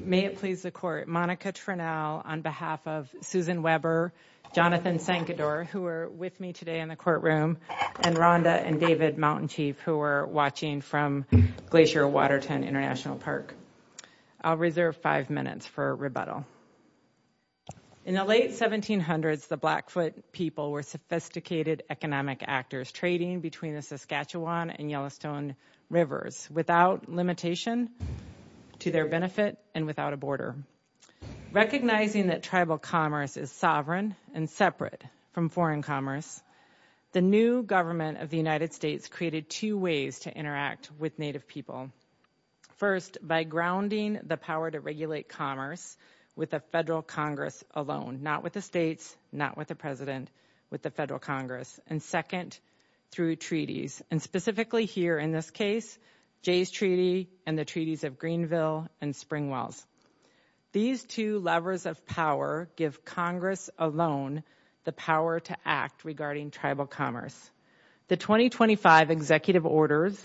May it please the court, Monica Trinnell on behalf of Susan Weber, Jonathan Sancador, who are with me today in the courtroom, and Rhonda and David Mountainchief who are watching from Glacier Waterton International Park. I'll reserve five minutes for rebuttal. In the late 1700s, the Blackfoot people were sophisticated economic actors trading between the Saskatchewan and Yellowstone rivers without limitation to their benefit and without a border. Recognizing that tribal commerce is sovereign and separate from foreign commerce, the new government of the United States created two ways to interact with Native people. First, by grounding the power to regulate commerce with the federal Congress alone, not with the states, not with the president, with the federal Congress. And second, through treaties, and specifically here in this case, Jay's Treaty and the Treaties of Greenville and Springwells. These two levers of power give Congress alone the power to act regarding tribal commerce. The 2025 executive orders,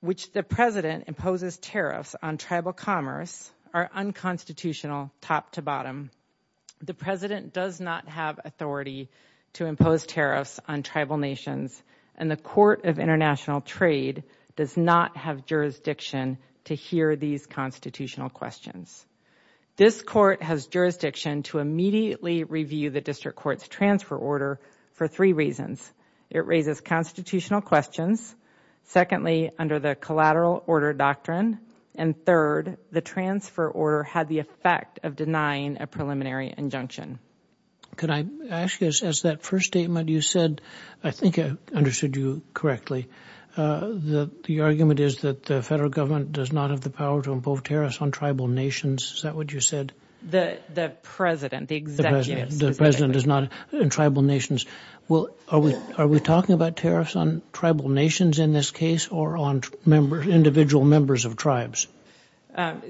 which the president imposes tariffs on tribal commerce, are unconstitutional top to bottom. The president does not have authority to impose tariffs on tribal nations, and the Court of International Trade does not have jurisdiction to hear these constitutional questions. This court has jurisdiction to immediately review the district court's transfer order for three reasons. It raises constitutional questions, secondly, under the collateral order doctrine, and third, the transfer order had the effect of denying a preliminary injunction. Can I ask you, as that first statement you said, I think I understood you correctly. The argument is that the federal government does not have the power to impose tariffs on tribal nations. Is that what you said? The president, the executive. The president is not in tribal nations. Are we talking about tariffs on tribal nations in this case, or on individual members of tribes?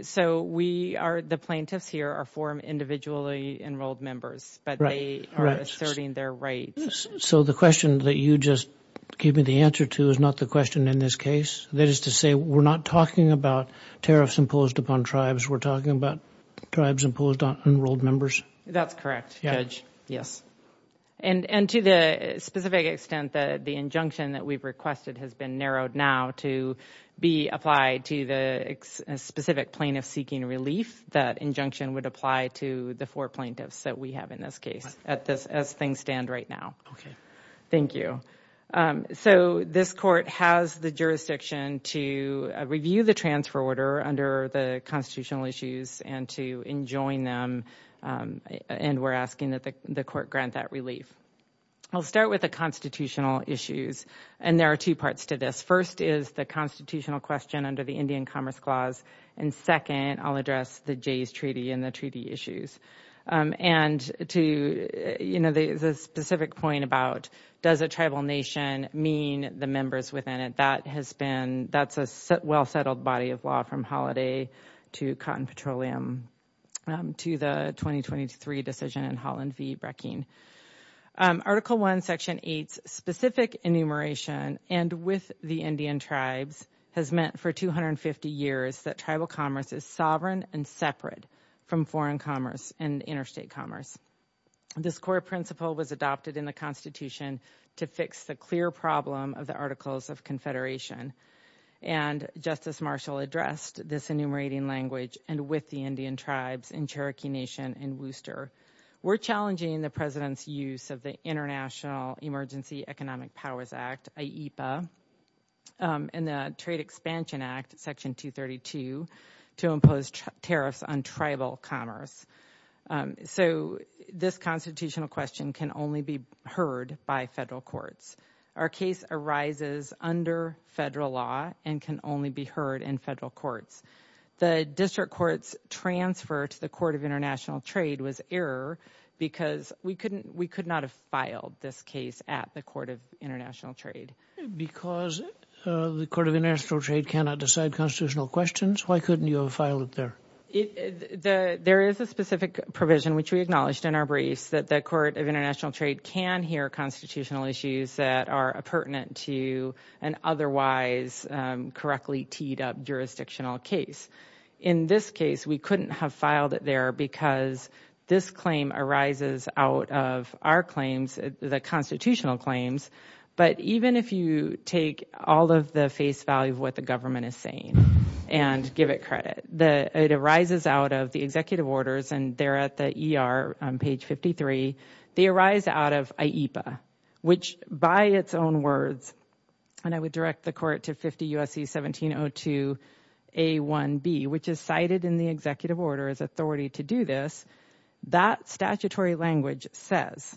So the plaintiffs here are for individually enrolled members, but they are asserting their rights. So the question that you just gave me the answer to is not the question in this case? That is to say, we're not talking about tariffs imposed upon tribes, we're talking about enrolled members? That's correct, Judge. Yes. And to the specific extent that the injunction that we've requested has been narrowed now to be applied to the specific plaintiff seeking relief, that injunction would apply to the four plaintiffs that we have in this case, as things stand right now. Okay. Thank you. So this court has the jurisdiction to review the under the constitutional issues and to enjoin them. And we're asking that the court grant that relief. I'll start with the constitutional issues. And there are two parts to this. First is the constitutional question under the Indian Commerce Clause. And second, I'll address the Jay's Treaty and the treaty issues. And to, you know, the specific point about does a tribal nation mean the members within it? That has been, that's a well-settled body of law from Holiday to Cotton Petroleum to the 2023 decision in Holland v. Brackeen. Article 1, Section 8's specific enumeration and with the Indian tribes has meant for 250 years that tribal commerce is sovereign and separate from foreign commerce and interstate commerce. This core principle was adopted in the Articles of Confederation. And Justice Marshall addressed this enumerating language and with the Indian tribes in Cherokee Nation and Worcester. We're challenging the President's use of the International Emergency Economic Powers Act, IEPA, and the Trade Expansion Act, Section 232, to impose tariffs on tribal commerce. So this constitutional question can only be by federal courts. Our case arises under federal law and can only be heard in federal courts. The District Court's transfer to the Court of International Trade was error because we couldn't, we could not have filed this case at the Court of International Trade. Because the Court of International Trade cannot decide constitutional questions, why couldn't you have filed it there? There is a specific provision which we acknowledged in our briefs that the International Trade can hear constitutional issues that are pertinent to an otherwise correctly teed up jurisdictional case. In this case, we couldn't have filed it there because this claim arises out of our claims, the constitutional claims. But even if you take all of the face value of what the government is saying and give it credit, it arises out of and they're at the ER on page 53, they arise out of IEPA, which by its own words, and I would direct the court to 50 U.S.C. 1702 A.1.B., which is cited in the executive order as authority to do this, that statutory language says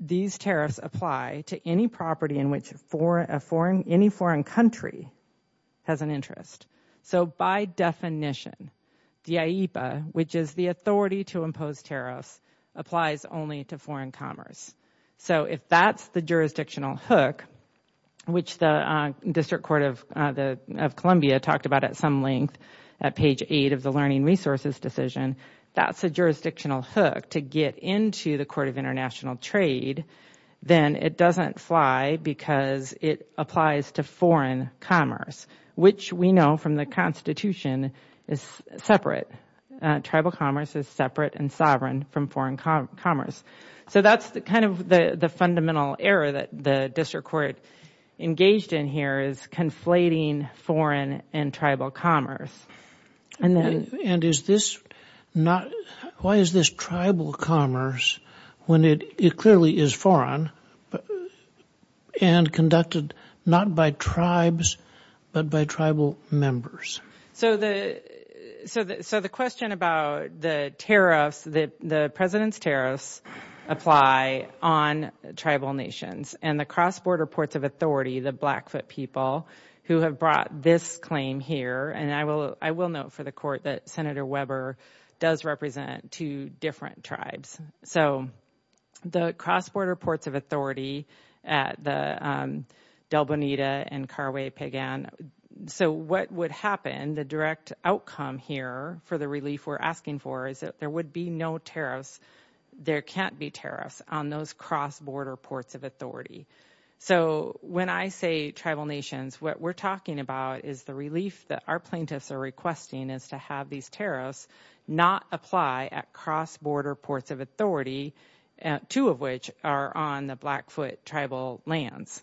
these tariffs apply to any property in which any foreign country has an interest. So by definition, the IEPA, which is the authority to impose tariffs, applies only to foreign commerce. So if that's the jurisdictional hook, which the District Court of Columbia talked about at some length at page 8 of the learning resources decision, that's a jurisdictional hook to get into the Court of International Trade, then it doesn't fly because it applies to foreign commerce, which we know from the Constitution is separate. Tribal commerce is separate and sovereign from foreign commerce. So that's kind of the fundamental error that the District Court engaged in here is conflating foreign and tribal commerce. And is this not, why is this tribal commerce when it clearly is foreign and conducted not by tribes, but by tribal members? So the question about the tariffs, the President's tariffs apply on tribal nations and the cross-border ports of authority, the Blackfoot people who have brought this claim here. And I will note for the Court that Senator Weber does represent two different tribes. So the cross-border ports of authority at the Del Bonita and Carway-Pagan. So what would happen, the direct outcome here for the relief we're asking for is that there would be no tariffs, there can't be tariffs on those cross-border ports of authority. So when I say tribal nations, what we're talking about is the relief that our plaintiffs are requesting is to have these tariffs not apply at cross-border ports of authority, two of which are on the Blackfoot tribal lands.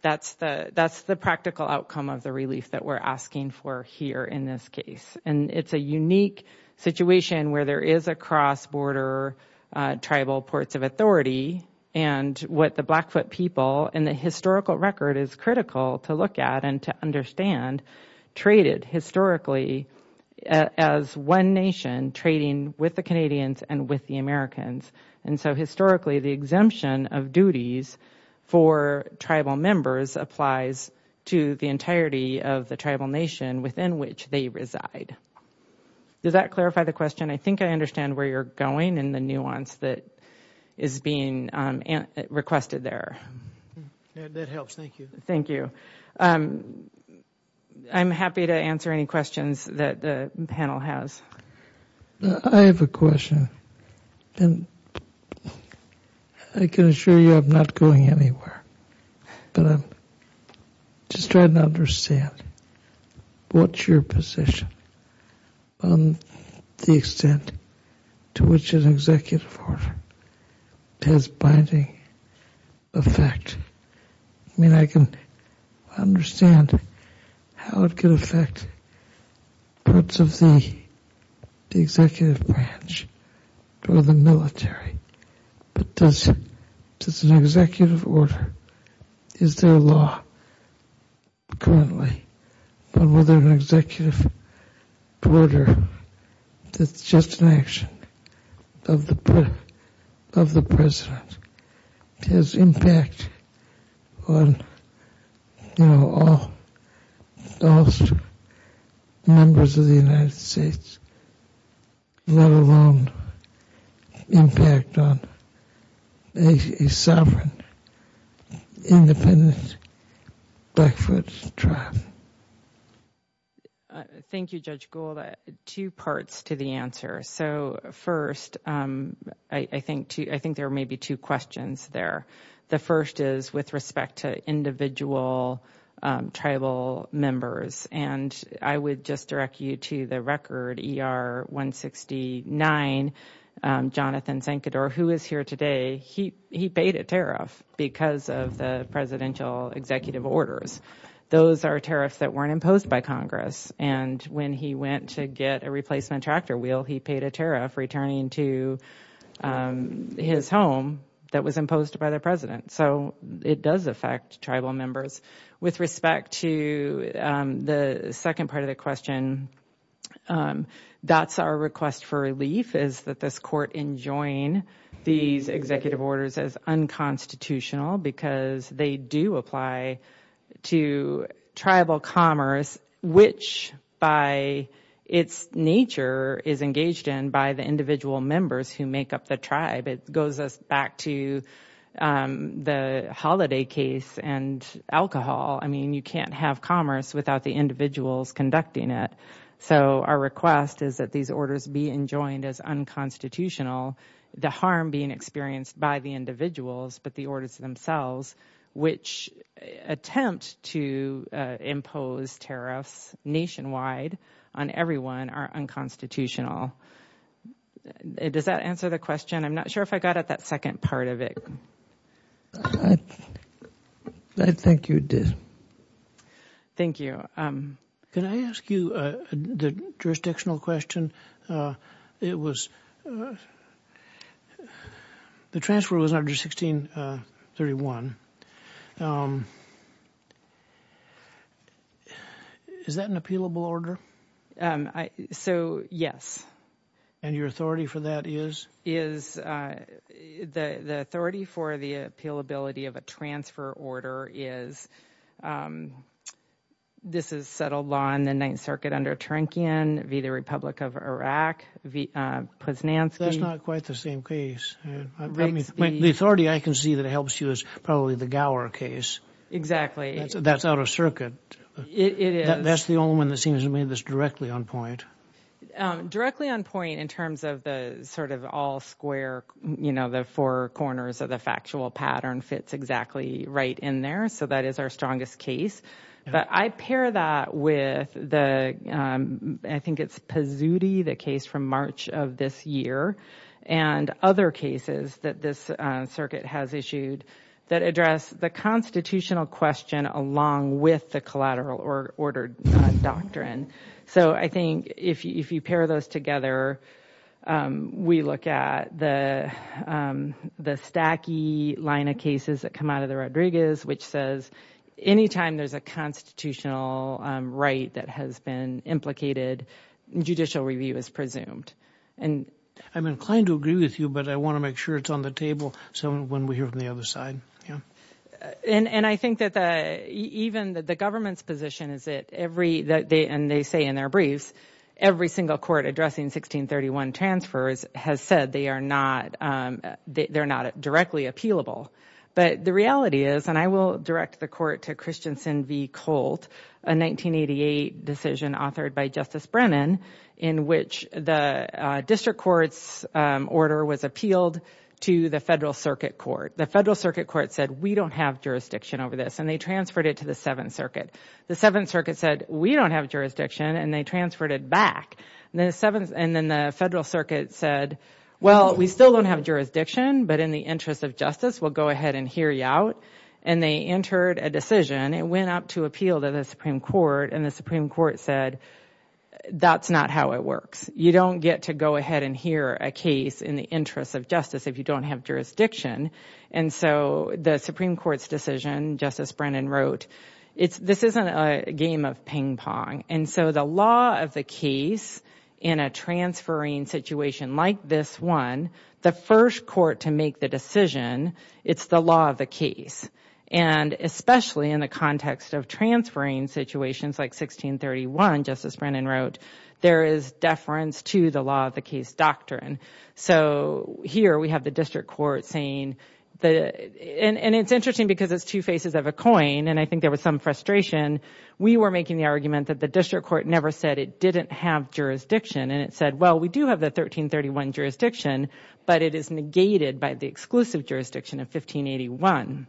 That's the practical outcome of the relief that we're asking for here in this case. And it's a unique situation where there is a cross-border tribal ports of authority and what the Blackfoot people, and the historical record is critical to look at and to understand, traded historically as one nation trading with the Canadians and with the Americans. And so historically, the exemption of duties for tribal members applies to the entirety of the tribal nation within which they reside. Does that clarify the question? I think I understand where you're going and the nuance that is being requested there. That helps, thank you. Thank you. I'm happy to answer any questions that the panel has. I have a question and I can assure you I'm not going anywhere, but I'm just trying to understand what's your position on the extent to which an executive order has binding effect? I mean, I can understand how it could affect parts of the executive branch or the military, but does an executive order, is there a law currently on whether an executive order that's just an action of the president has impact on all the members of the United States, let alone impact on a sovereign, independent Blackfoot tribe? Thank you, Judge Gould. Two parts to the answer. So first, I think there may be two questions there. The first is with respect to individual tribal members, and I would just direct you to the record ER-169, Jonathan Sankador, who is here today. He paid a tariff because of the presidential executive orders. Those are tariffs that weren't imposed by Congress, and when he went to get a replacement tractor wheel, he paid a tariff returning to his home that was imposed by the president. So it does affect tribal members. With respect to the second part of the question, that's our request for relief is that this court enjoin these executive orders as unconstitutional because they do apply to tribal commerce, which by its nature is engaged in by the individual members who make up the tribe. It goes us back to the Holiday case and alcohol. I mean, you can't have commerce without the individuals conducting it. So our request is that these orders be enjoined as unconstitutional. The harm being experienced by the individuals, but the orders themselves, which attempt to impose tariffs nationwide on everyone, are unconstitutional. Does that answer the question? I'm not sure if I got at that second part of it. I think you did. Thank you. Can I ask you the jurisdictional question? It was the transfer was under 1631. Is that an appealable order? So, yes. And your authority for that is? Is the authority for the appealability of a transfer order is? This is settled on the Ninth Circuit under Trankin v. The Republic of Iraq v. Posnansky. That's not quite the same case. The authority I can see that helps you is probably the Gower case. Exactly. That's out of circuit. That's the only one that seems to me that's directly on point. Directly on point in terms of the sort of all square, you know, the four corners of the factual pattern fits exactly right in there. So that is our strongest case. But I pair that with the, I think it's Pizzuti, the case from March of this year, and other cases that this circuit has issued that address the constitutional question along with the collateral or ordered doctrine. So I think if you pair those together, we look at the stacky line of cases that come out of the Rodriguez, which says anytime there's a constitutional right that has been implicated, judicial review is presumed. I'm inclined to agree with you, but I want to make sure it's on the table so when we hear from the other side. And I think that even the government's position is that every, and they say in their briefs, every single court addressing 1631 transfers has said they are not directly appealable. But the reality is, and I will direct the court to Christensen v. Colt, a 1988 decision authored by Justice Brennan in which the district court's order was appealed to the Federal Circuit Court. The Federal Circuit Court said, we don't have jurisdiction over this, and they transferred it to the Seventh Circuit. The Seventh Circuit said, we don't have jurisdiction, and they transferred it back. And then the Federal Circuit said, well, we still don't have jurisdiction, but in the interest of justice, we'll go ahead and hear you out. And they entered a decision, it went up to appeal to the Supreme Court, and the Supreme Court said, that's not how it works. You don't get to go ahead and hear a case in the interest of justice if you don't have jurisdiction. And so the Supreme Court's decision, Justice Brennan wrote, this isn't a game of ping-pong. And so the law of the case in a transferring situation like this one, the first court to the decision, it's the law of the case. And especially in the context of transferring situations like 1631, Justice Brennan wrote, there is deference to the law of the case doctrine. So here we have the district court saying, and it's interesting because it's two faces of a coin, and I think there was some frustration. We were making the argument that the district court never said it didn't have jurisdiction. And it said, well, we do have the 1331 jurisdiction, but it is negated by the exclusive jurisdiction of 1581.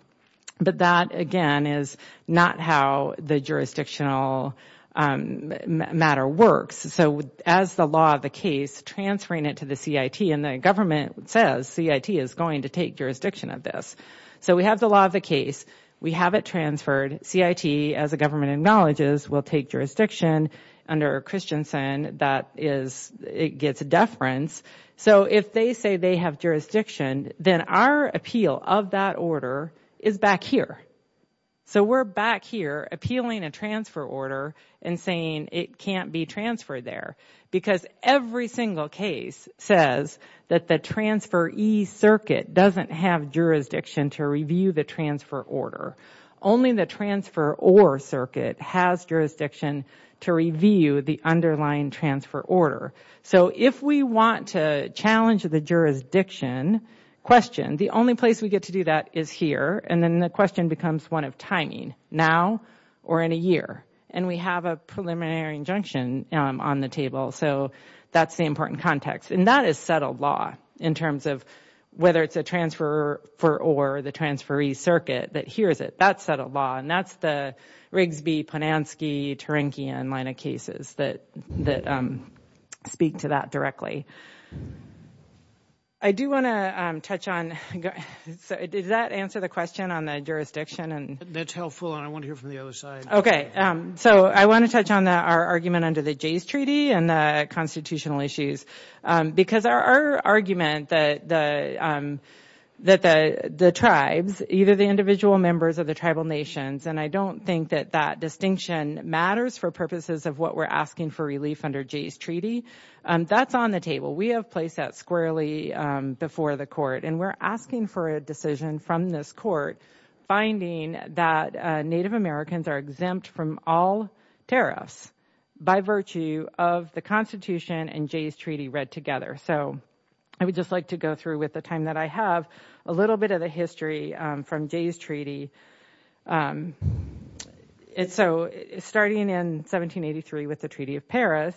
But that, again, is not how the jurisdictional matter works. So as the law of the case, transferring it to the CIT, and the government says CIT is going to take jurisdiction of this. So we have the law of the case. We have it transferred. CIT, as the government acknowledges, will take jurisdiction. Under Christensen, that is, it gets deference. So if they say they have jurisdiction, then our appeal of that order is back here. So we're back here appealing a transfer order and saying it can't be transferred there. Because every single case says that the transferee circuit doesn't have jurisdiction to review the transfer order. Only the transferor circuit has jurisdiction to review the underlying transfer order. So if we want to challenge the jurisdiction question, the only place we get to do that is here. And then the question becomes one of timing, now or in a year. And we have a preliminary injunction on the table. So that's the important context. And that is settled law in terms of whether it's a transfer for or the transferee circuit that hears it. That's settled law. And that's the Rigsby, Ponanski, Tarinkian line of cases that speak to that directly. I do want to touch on, does that answer the question on the jurisdiction? And that's helpful. And I want to hear from the other side. Okay. So I want to touch on that, our argument under the Jay's Treaty and the constitutional issues. Because our argument that the tribes, either the individual members of the tribal nations, and I don't think that that distinction matters for purposes of what we're asking for relief under Jay's Treaty, that's on the table. We have placed that squarely before the court. And we're asking for a decision from this court finding that Native Americans are exempt from all tariffs by virtue of the Constitution and Jay's Treaty read together. So I would just like to go through with the time that I have a little bit of the history from Jay's Treaty. So starting in 1783 with the Treaty of Paris,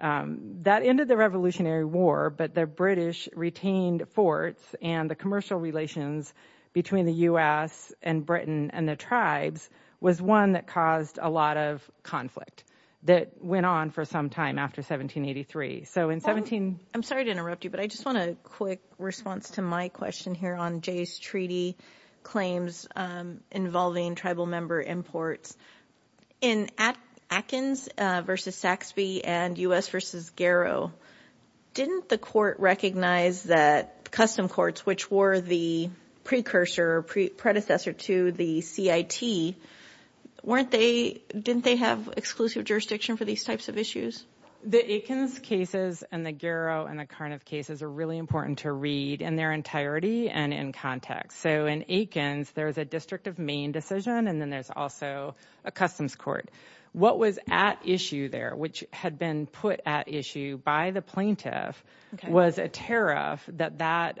that ended the Revolutionary War, but the British retained forts and the commercial relations between the U.S. and Britain and the was one that caused a lot of conflict that went on for some time after 1783. So in 17... I'm sorry to interrupt you, but I just want a quick response to my question here on Jay's Treaty claims involving tribal member imports. In Atkins v. Saxby and U.S. v. Garrow, didn't the court recognize that custom courts, which were the precursor or predecessor to the CIT, weren't they...didn't they have exclusive jurisdiction for these types of issues? The Atkins cases and the Garrow and the Carniff cases are really important to read in their entirety and in context. So in Atkins, there's a District of Maine decision, and then there's also a customs court. What was at issue there, which had been put at issue by the plaintiff, was a tariff that that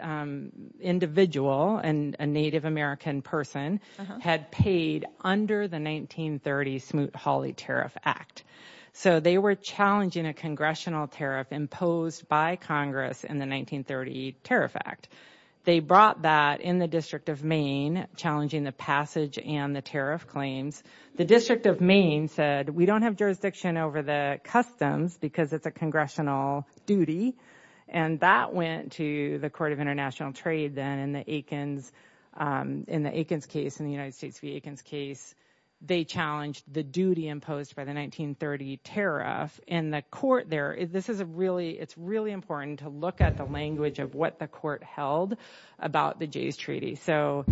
individual, a Native American person, had paid under the 1930 Smoot-Hawley Tariff Act. So they were challenging a congressional tariff imposed by Congress in the 1930 Tariff Act. They brought that in the District of Maine, challenging the passage and the tariff claims. The District of Maine said, we don't have jurisdiction over the customs because it's a congressional duty. And that went to the Court of International Trade then in the Atkins case, in the United States v. Atkins case, they challenged the duty imposed by the 1930 tariff. In the court there, this is a really, it's really important to look at the language of what the held about the Jay's Treaty. So,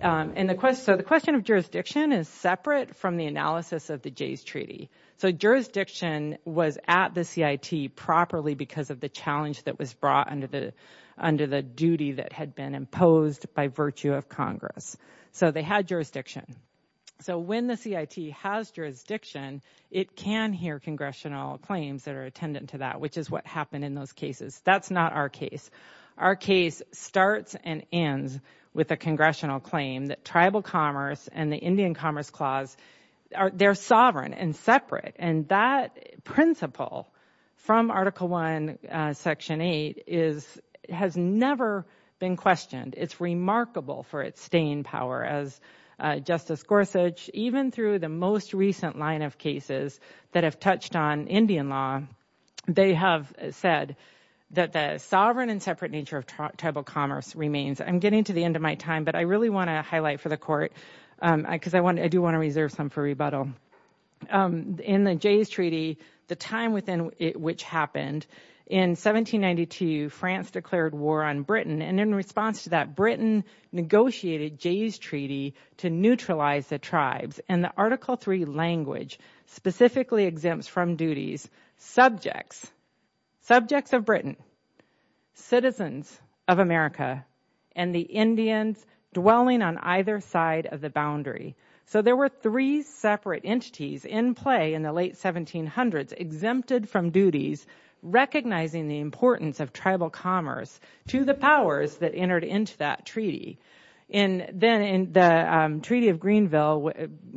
and the question, so the question of jurisdiction is separate from the analysis of the Jay's Treaty. So jurisdiction was at the CIT properly because of the challenge that was brought under the, under the duty that had been imposed by virtue of Congress. So they had jurisdiction. So when the CIT has jurisdiction, it can hear congressional claims that are attendant to that, which is what happened in those cases. That's not our case. Our case starts and ends with a congressional claim that tribal commerce and the Indian Commerce Clause are, they're sovereign and separate. And that principle from Article I, Section 8 is, has never been questioned. It's remarkable for its staying power as Justice Gorsuch, even through the most recent line of cases that have touched on Indian law, they have said that the sovereign and separate nature of tribal commerce remains. I'm getting to the end of my time, but I really want to highlight for the court, because I want, I do want to reserve some for rebuttal. In the Jay's Treaty, the time within which happened, in 1792, France declared war on Britain and in response to that, Britain negotiated Jay's Treaty to neutralize the tribes and the Article III language specifically exempts from duties subjects, subjects of Britain, citizens of America, and the Indians dwelling on either side of the boundary. So there were three separate entities in play in the late 1700s, exempted from duties, recognizing the importance of tribal commerce to the powers that entered into that treaty. And then in the Treaty of Greenville,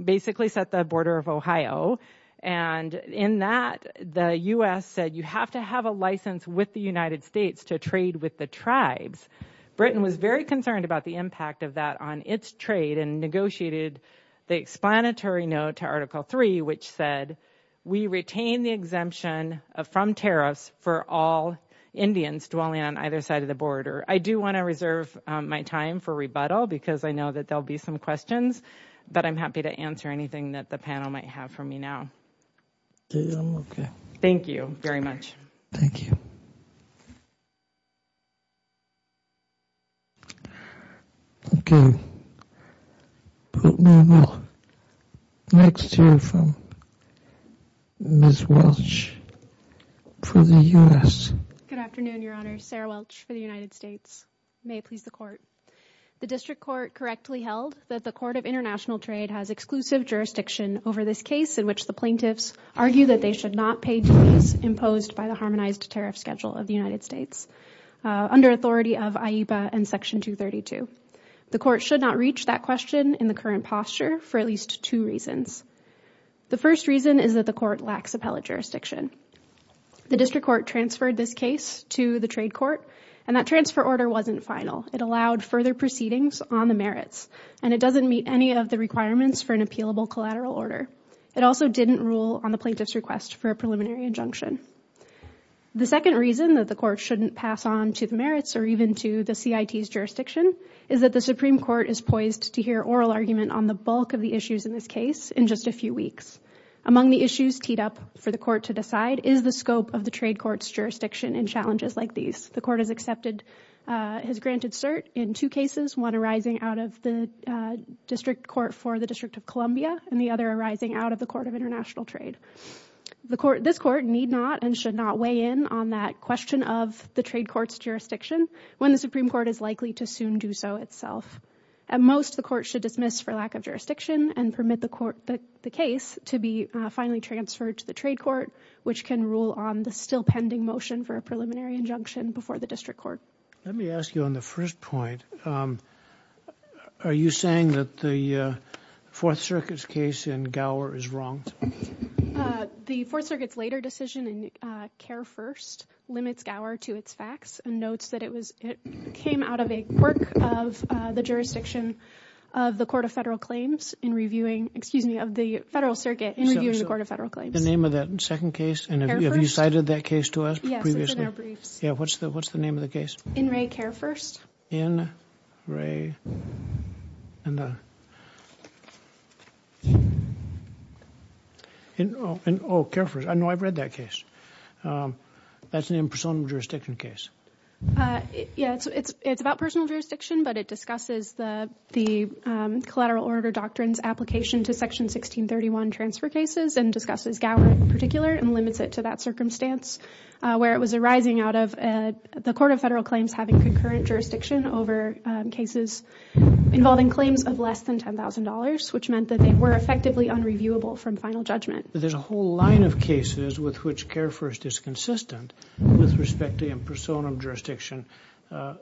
basically set the border of Ohio, and in that the U.S. said you have to have a license with the United States to trade with the tribes. Britain was very concerned about the impact of that on its trade and negotiated the explanatory note to Article III, which said we retain the exemption from tariffs for all Indians dwelling on either side of the border. I do want to reserve my time for rebuttal, because I know that there'll be some questions, but I'm happy to answer anything that the panel might have for me now. Thank you very much. Thank you. Okay, next here from Ms. Welch for the U.S. Good afternoon, Your Honor. Sarah Welch for the United States. May it please the Court. The District Court correctly held that the Court of International Trade has exclusive jurisdiction over this case in which the argue that they should not pay duties imposed by the Harmonized Tariff Schedule of the United States under authority of IEPA and Section 232. The Court should not reach that question in the current posture for at least two reasons. The first reason is that the Court lacks appellate jurisdiction. The District Court transferred this case to the Trade Court, and that transfer order wasn't final. It allowed further proceedings on the merits, and it doesn't meet any of the requirements for an on the plaintiff's request for a preliminary injunction. The second reason that the Court shouldn't pass on to the merits or even to the CIT's jurisdiction is that the Supreme Court is poised to hear oral argument on the bulk of the issues in this case in just a few weeks. Among the issues teed up for the Court to decide is the scope of the Trade Court's jurisdiction in challenges like these. The Court has accepted, has granted cert in two cases, one arising out of the District Court for the District of Columbia, and the other arising out of the Court of International Trade. This Court need not and should not weigh in on that question of the Trade Court's jurisdiction when the Supreme Court is likely to soon do so itself. At most, the Court should dismiss for lack of jurisdiction and permit the case to be finally transferred to the Trade Court, which can rule on the still pending motion for a preliminary injunction before the District Court. Let me ask you on the first point. Um, are you saying that the, uh, Fourth Circuit's case in Gower is wrong? Uh, the Fourth Circuit's later decision in, uh, Care First limits Gower to its facts and notes that it was, it came out of a quirk of, uh, the jurisdiction of the Court of Federal Claims in reviewing, excuse me, of the Federal Circuit in reviewing the Court of Federal Claims. The name of that second case? And have you cited that case to us previously? Yes, it's in our briefs. Yeah, what's the, what's the name of the case? In Re Care First. In Re, and the, in, oh, in, oh, Care First. I know I've read that case. Um, that's an impersonal jurisdiction case. Uh, yeah, it's, it's, it's about personal jurisdiction, but it discusses the, the, um, collateral order doctrines application to Section 1631 transfer cases and discusses Gower in particular and limits it to that circumstance, uh, where it was arising out of, uh, the Court of Federal Claims having concurrent jurisdiction over, um, cases involving claims of less than $10,000, which meant that they were effectively unreviewable from final judgment. There's a whole line of cases with which Care First is consistent with respect to impersonal jurisdiction, uh,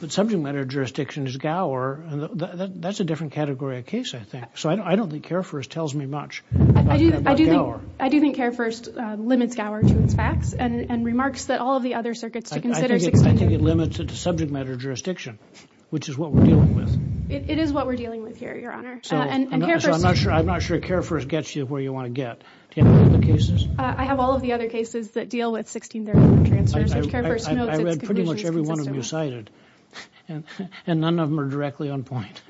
but subject matter jurisdiction is Gower, and that, that's a different category of case, I think. So I don't, I don't think Care First tells me much about, about Gower. I do think, I do think Care First, uh, limits Gower to its facts and, and remarks that all of the other circuits to consider... I think, I think it limits it to subject matter jurisdiction, which is what we're dealing with. It, it is what we're dealing with here, Your Honor. So, so I'm not sure, I'm not sure Care First gets you where you want to get. Do you have all of the cases? Uh, I have all of the other cases that deal with 1631 transfers, which Care First notes its conclusions consistent with. I, I read pretty much every one of them you cited, and, and none of them are directly on point.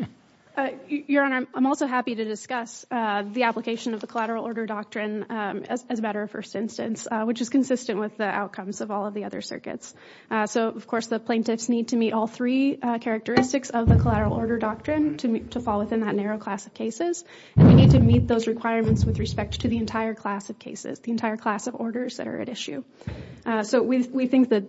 Your Honor, I'm also happy to discuss, uh, the application of the collateral order doctrine, um, as, as a matter of first instance, uh, which is consistent with the outcomes of all of the other circuits. Uh, so of course, the plaintiffs need to meet all three, uh, characteristics of the collateral order doctrine to meet, to fall within that narrow class of cases, and we need to meet those requirements with respect to the entire class of cases, the entire class of orders that are at issue. Uh, so we, we think that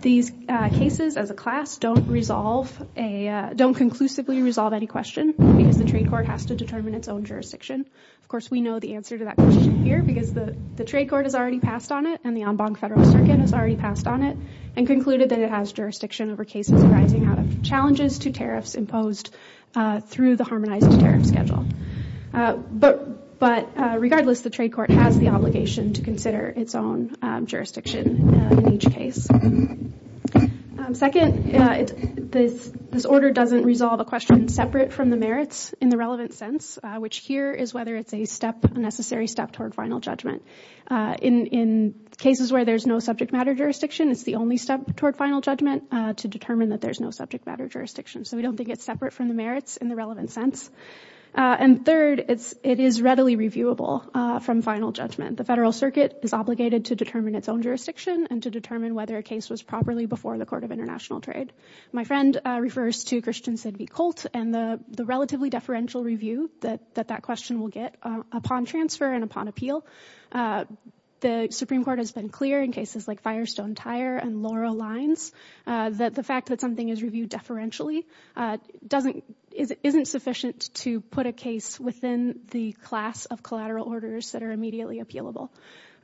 these, uh, cases as a class don't resolve a, uh, don't conclusively resolve any question because the trade court has to determine its own jurisdiction. Of course, we know the answer to that question here because the, the trade court has already passed on it and the en banc federal circuit has already passed on it and concluded that it has jurisdiction over cases arising out of challenges to tariffs imposed, uh, through the harmonized tariff schedule. Uh, but, but, uh, regardless, the trade court has the obligation to consider its own, um, jurisdiction, uh, in each case. Um, second, uh, it's, this, this order doesn't resolve a question separate from the merits in the relevant sense, uh, which here is whether it's a step, a necessary step toward final judgment. Uh, in, in cases where there's no subject matter jurisdiction, it's the only step toward final judgment, uh, to determine that there's no subject matter jurisdiction. So we don't think it's separate from the merits in the relevant sense. Uh, and third, it's, it is readily reviewable, uh, from final judgment. The federal circuit is obligated to determine its own jurisdiction and to determine whether a case was properly before the court of international trade. My friend, uh, refers to Christian Sidney Colt and the, the relatively deferential review that, that that question will get, uh, upon transfer and upon appeal. Uh, the Supreme Court has been clear in cases like Firestone Tire and Laurel Lines, uh, that the fact that something is reviewed deferentially, uh, doesn't, isn't sufficient to put a case within the class of collateral orders that immediately appealable.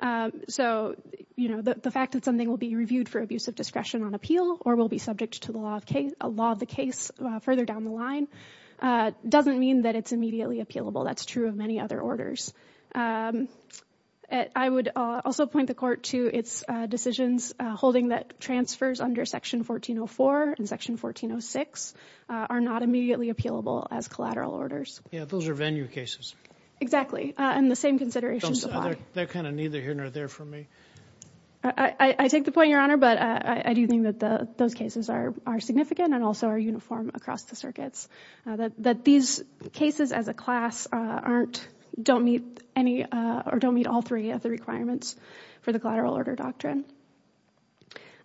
Um, so, you know, the, the fact that something will be reviewed for abusive discretion on appeal or will be subject to the law of case, a law of the case, uh, further down the line, uh, doesn't mean that it's immediately appealable. That's true of many other orders. Um, uh, I would, uh, also point the court to its, uh, decisions, uh, holding that transfers under section 1404 and section 1406, uh, are not immediately appealable as collateral orders. Yeah, those are venue cases. Exactly. Uh, and the same consideration they're kind of neither here nor there for me. I, I, I take the point your honor, but I, I do think that the, those cases are, are significant and also are uniform across the circuits, uh, that, that these cases as a class, uh, aren't, don't meet any, uh, or don't meet all three of the requirements for the collateral order doctrine.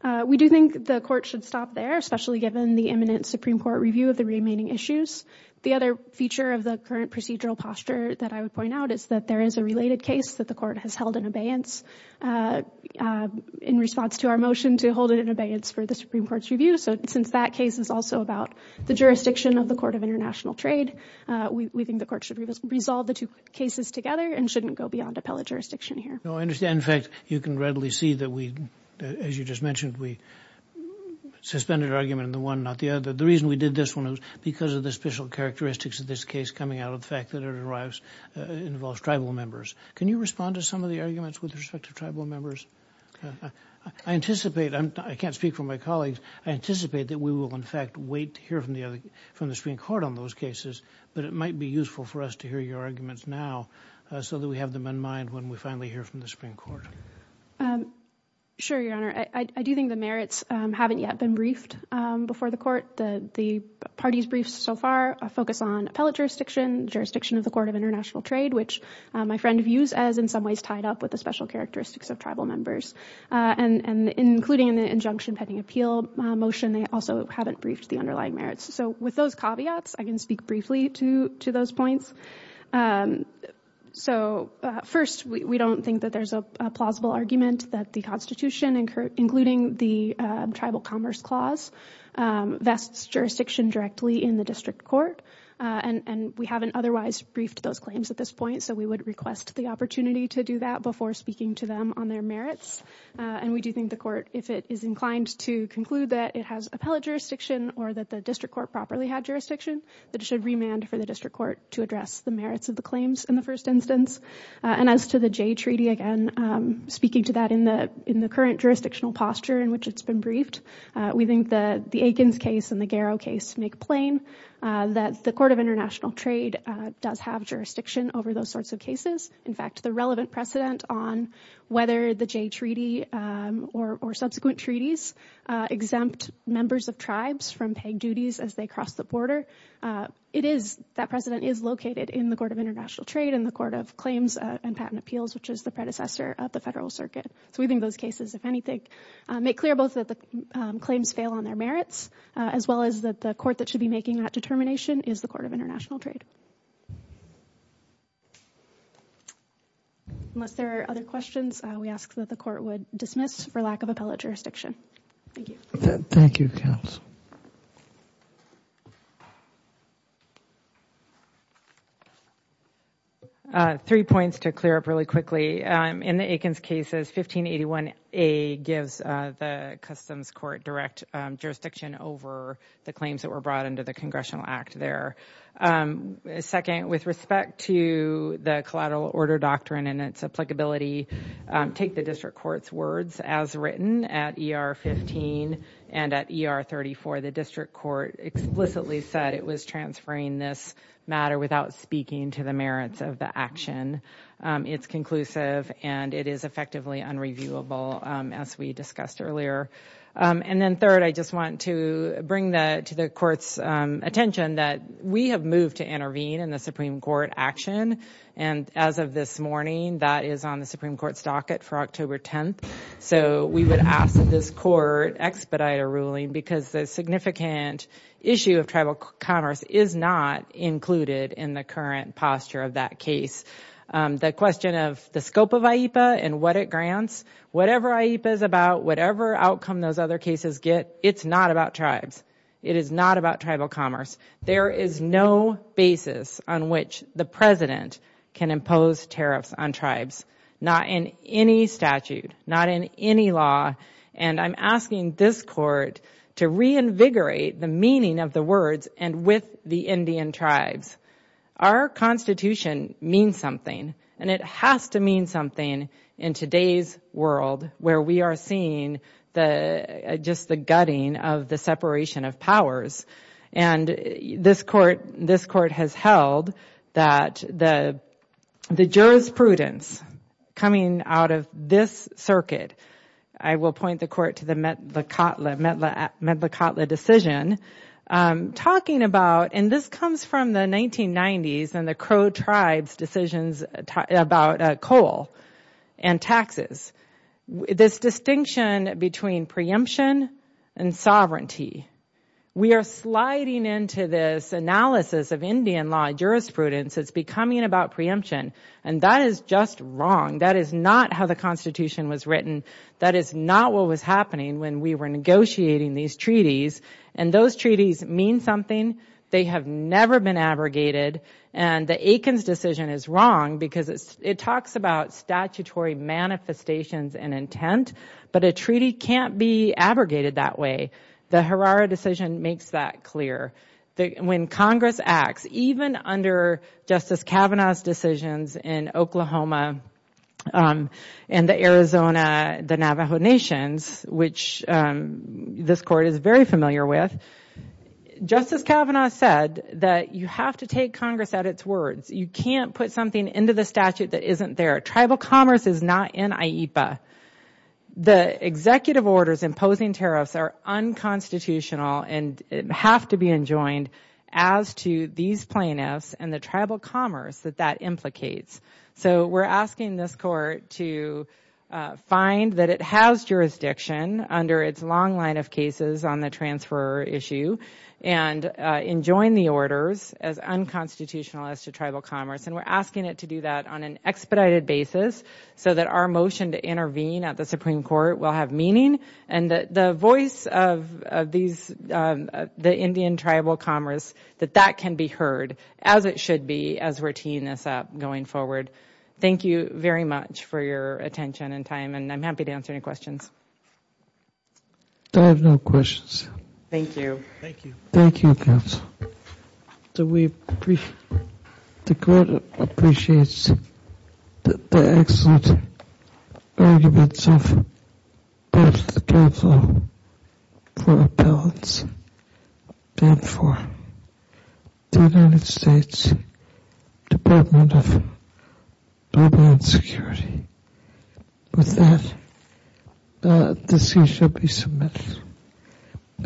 Uh, we do think the court should stop there, especially given the imminent Supreme Court review of the remaining issues. The other feature of the current procedural posture that I would point out is that there is a related case that the court has held in abeyance, uh, uh, in response to our motion to hold it in abeyance for the Supreme Court's review. So since that case is also about the jurisdiction of the court of international trade, uh, we, we think the court should resolve the two cases together and shouldn't go beyond appellate jurisdiction here. No, I understand. In fact, you can readily see that we, as you just mentioned, we suspended argument in the one, not the other. The reason we did this one was because of the special characteristics of this case coming out of the fact that it arrives, uh, involves tribal members. Can you respond to some of the arguments with respect to tribal members? I anticipate I'm, I can't speak for my colleagues. I anticipate that we will in fact wait to hear from the other, from the Supreme Court on those cases, but it might be useful for us to hear your arguments now, uh, so that we have them in mind when we finally hear from the Supreme Court. Um, sure, Your Honor, I, I do think the merits, um, haven't yet been briefed, um, before the court. The, the party's briefs so far, uh, focus on appellate jurisdiction, jurisdiction of the international trade, which, uh, my friend views as in some ways tied up with the special characteristics of tribal members, uh, and, and including in the injunction pending appeal, uh, motion, they also haven't briefed the underlying merits. So with those caveats, I can speak briefly to, to those points. Um, so, uh, first, we, we don't think that there's a plausible argument that the Constitution incur, including the, uh, tribal commerce clause, um, vests jurisdiction directly in the district court, uh, and, and we haven't otherwise briefed at this point. So we would request the opportunity to do that before speaking to them on their merits. Uh, and we do think the court, if it is inclined to conclude that it has appellate jurisdiction or that the district court properly had jurisdiction, that it should remand for the district court to address the merits of the claims in the first instance. Uh, and as to the Jay Treaty, again, um, speaking to that in the, in the current jurisdictional posture in which it's been briefed, uh, we think the, the Aikens case and the Garrow case make plain, uh, that the Court of International Trade, uh, does have jurisdiction over those sorts of cases. In fact, the relevant precedent on whether the Jay Treaty, um, or, or subsequent treaties, uh, exempt members of tribes from paying duties as they cross the border. Uh, it is, that precedent is located in the Court of International Trade and the Court of Claims and Patent Appeals, which is the predecessor of the Federal Circuit. So we think those cases, if anything, uh, make clear both that the, um, claims fail on their merits, uh, as well as that the court that should be making that determination is the Court of International Trade. Unless there are other questions, uh, we ask that the court would dismiss for lack of appellate jurisdiction. Thank you. Thank you, counsel. Uh, three points to clear up really quickly. Um, in the Aikens cases, 1581A gives, uh, the Customs Court direct, um, jurisdiction over the claims that were brought under the Congressional Act there. Um, second, with respect to the collateral order doctrine and its applicability, um, take the District Court's words as written at ER 15 and at ER 34. The District Court explicitly said it was transferring this matter without speaking to the merits of the action. It's conclusive and it is effectively unreviewable, um, as we discussed earlier. Um, and then third, I just want to bring the, to the Court's, um, attention that we have moved to intervene in the Supreme Court action. And as of this morning, that is on the Supreme Court's docket for October 10th. So we would ask that this court expedite a ruling because the significant issue of tribal commerce is not included in the current posture of that case. Um, the question of the scope of IEPA and what it grants, whatever IEPA is about, whatever outcome those other cases get, it's not about tribes. It is not about tribal commerce. There is no basis on which the President can impose tariffs on tribes, not in any statute, not in any law. And I'm asking this court to reinvigorate the meaning of the words and with the Indian tribes. Our Constitution means something and it has to mean something in today's world where we are seeing the, just the gutting of the separation of powers. And this court, this court has held that the, the jurisprudence coming out of this circuit, I will point the court to the Medla Kotla decision, um, talking about, and this comes from the 1990s and the Crow tribes decisions about coal and taxes, this distinction between preemption and sovereignty. We are sliding into this analysis of Indian law jurisprudence. It's becoming about preemption. And that is just wrong. That is not how the Constitution was written. That is not what was happening when we were negotiating these treaties. And those treaties mean something. They have never been abrogated. And the Akins decision is wrong because it's, it talks about statutory manifestations and intent, but a treaty can't be abrogated that way. The Herrera decision makes that clear. The, when Congress acts, even under Justice Kavanaugh's decisions in Oklahoma, um, and the Arizona, the Navajo nations, which, um, this court is very familiar with, Justice Kavanaugh said that you have to take Congress at its words. You can't put something into the statute that isn't there. Tribal commerce is not in IEPA. The executive orders imposing tariffs are unconstitutional and have to be enjoined as to these plaintiffs and the tribal commerce that that implicates. So we're asking this court to find that it has jurisdiction under its long line of cases on the transfer issue and, uh, enjoin the orders as unconstitutional as to tribal commerce. And we're asking it to do that on an expedited basis so that our motion to intervene at the Supreme Court will have meaning and that the voice of, of these, um, the Indian tribal commerce, that that can be heard as it should be as we're teeing this up going forward. Thank you very much for your attention and time. And I'm happy to answer any questions. I have no questions. Thank you. Thank you. Thank you, counsel. So we, the court appreciates the excellent arguments of both the Tribal for Appellants and for the United States Department of Global and Security. With that, the decision shall be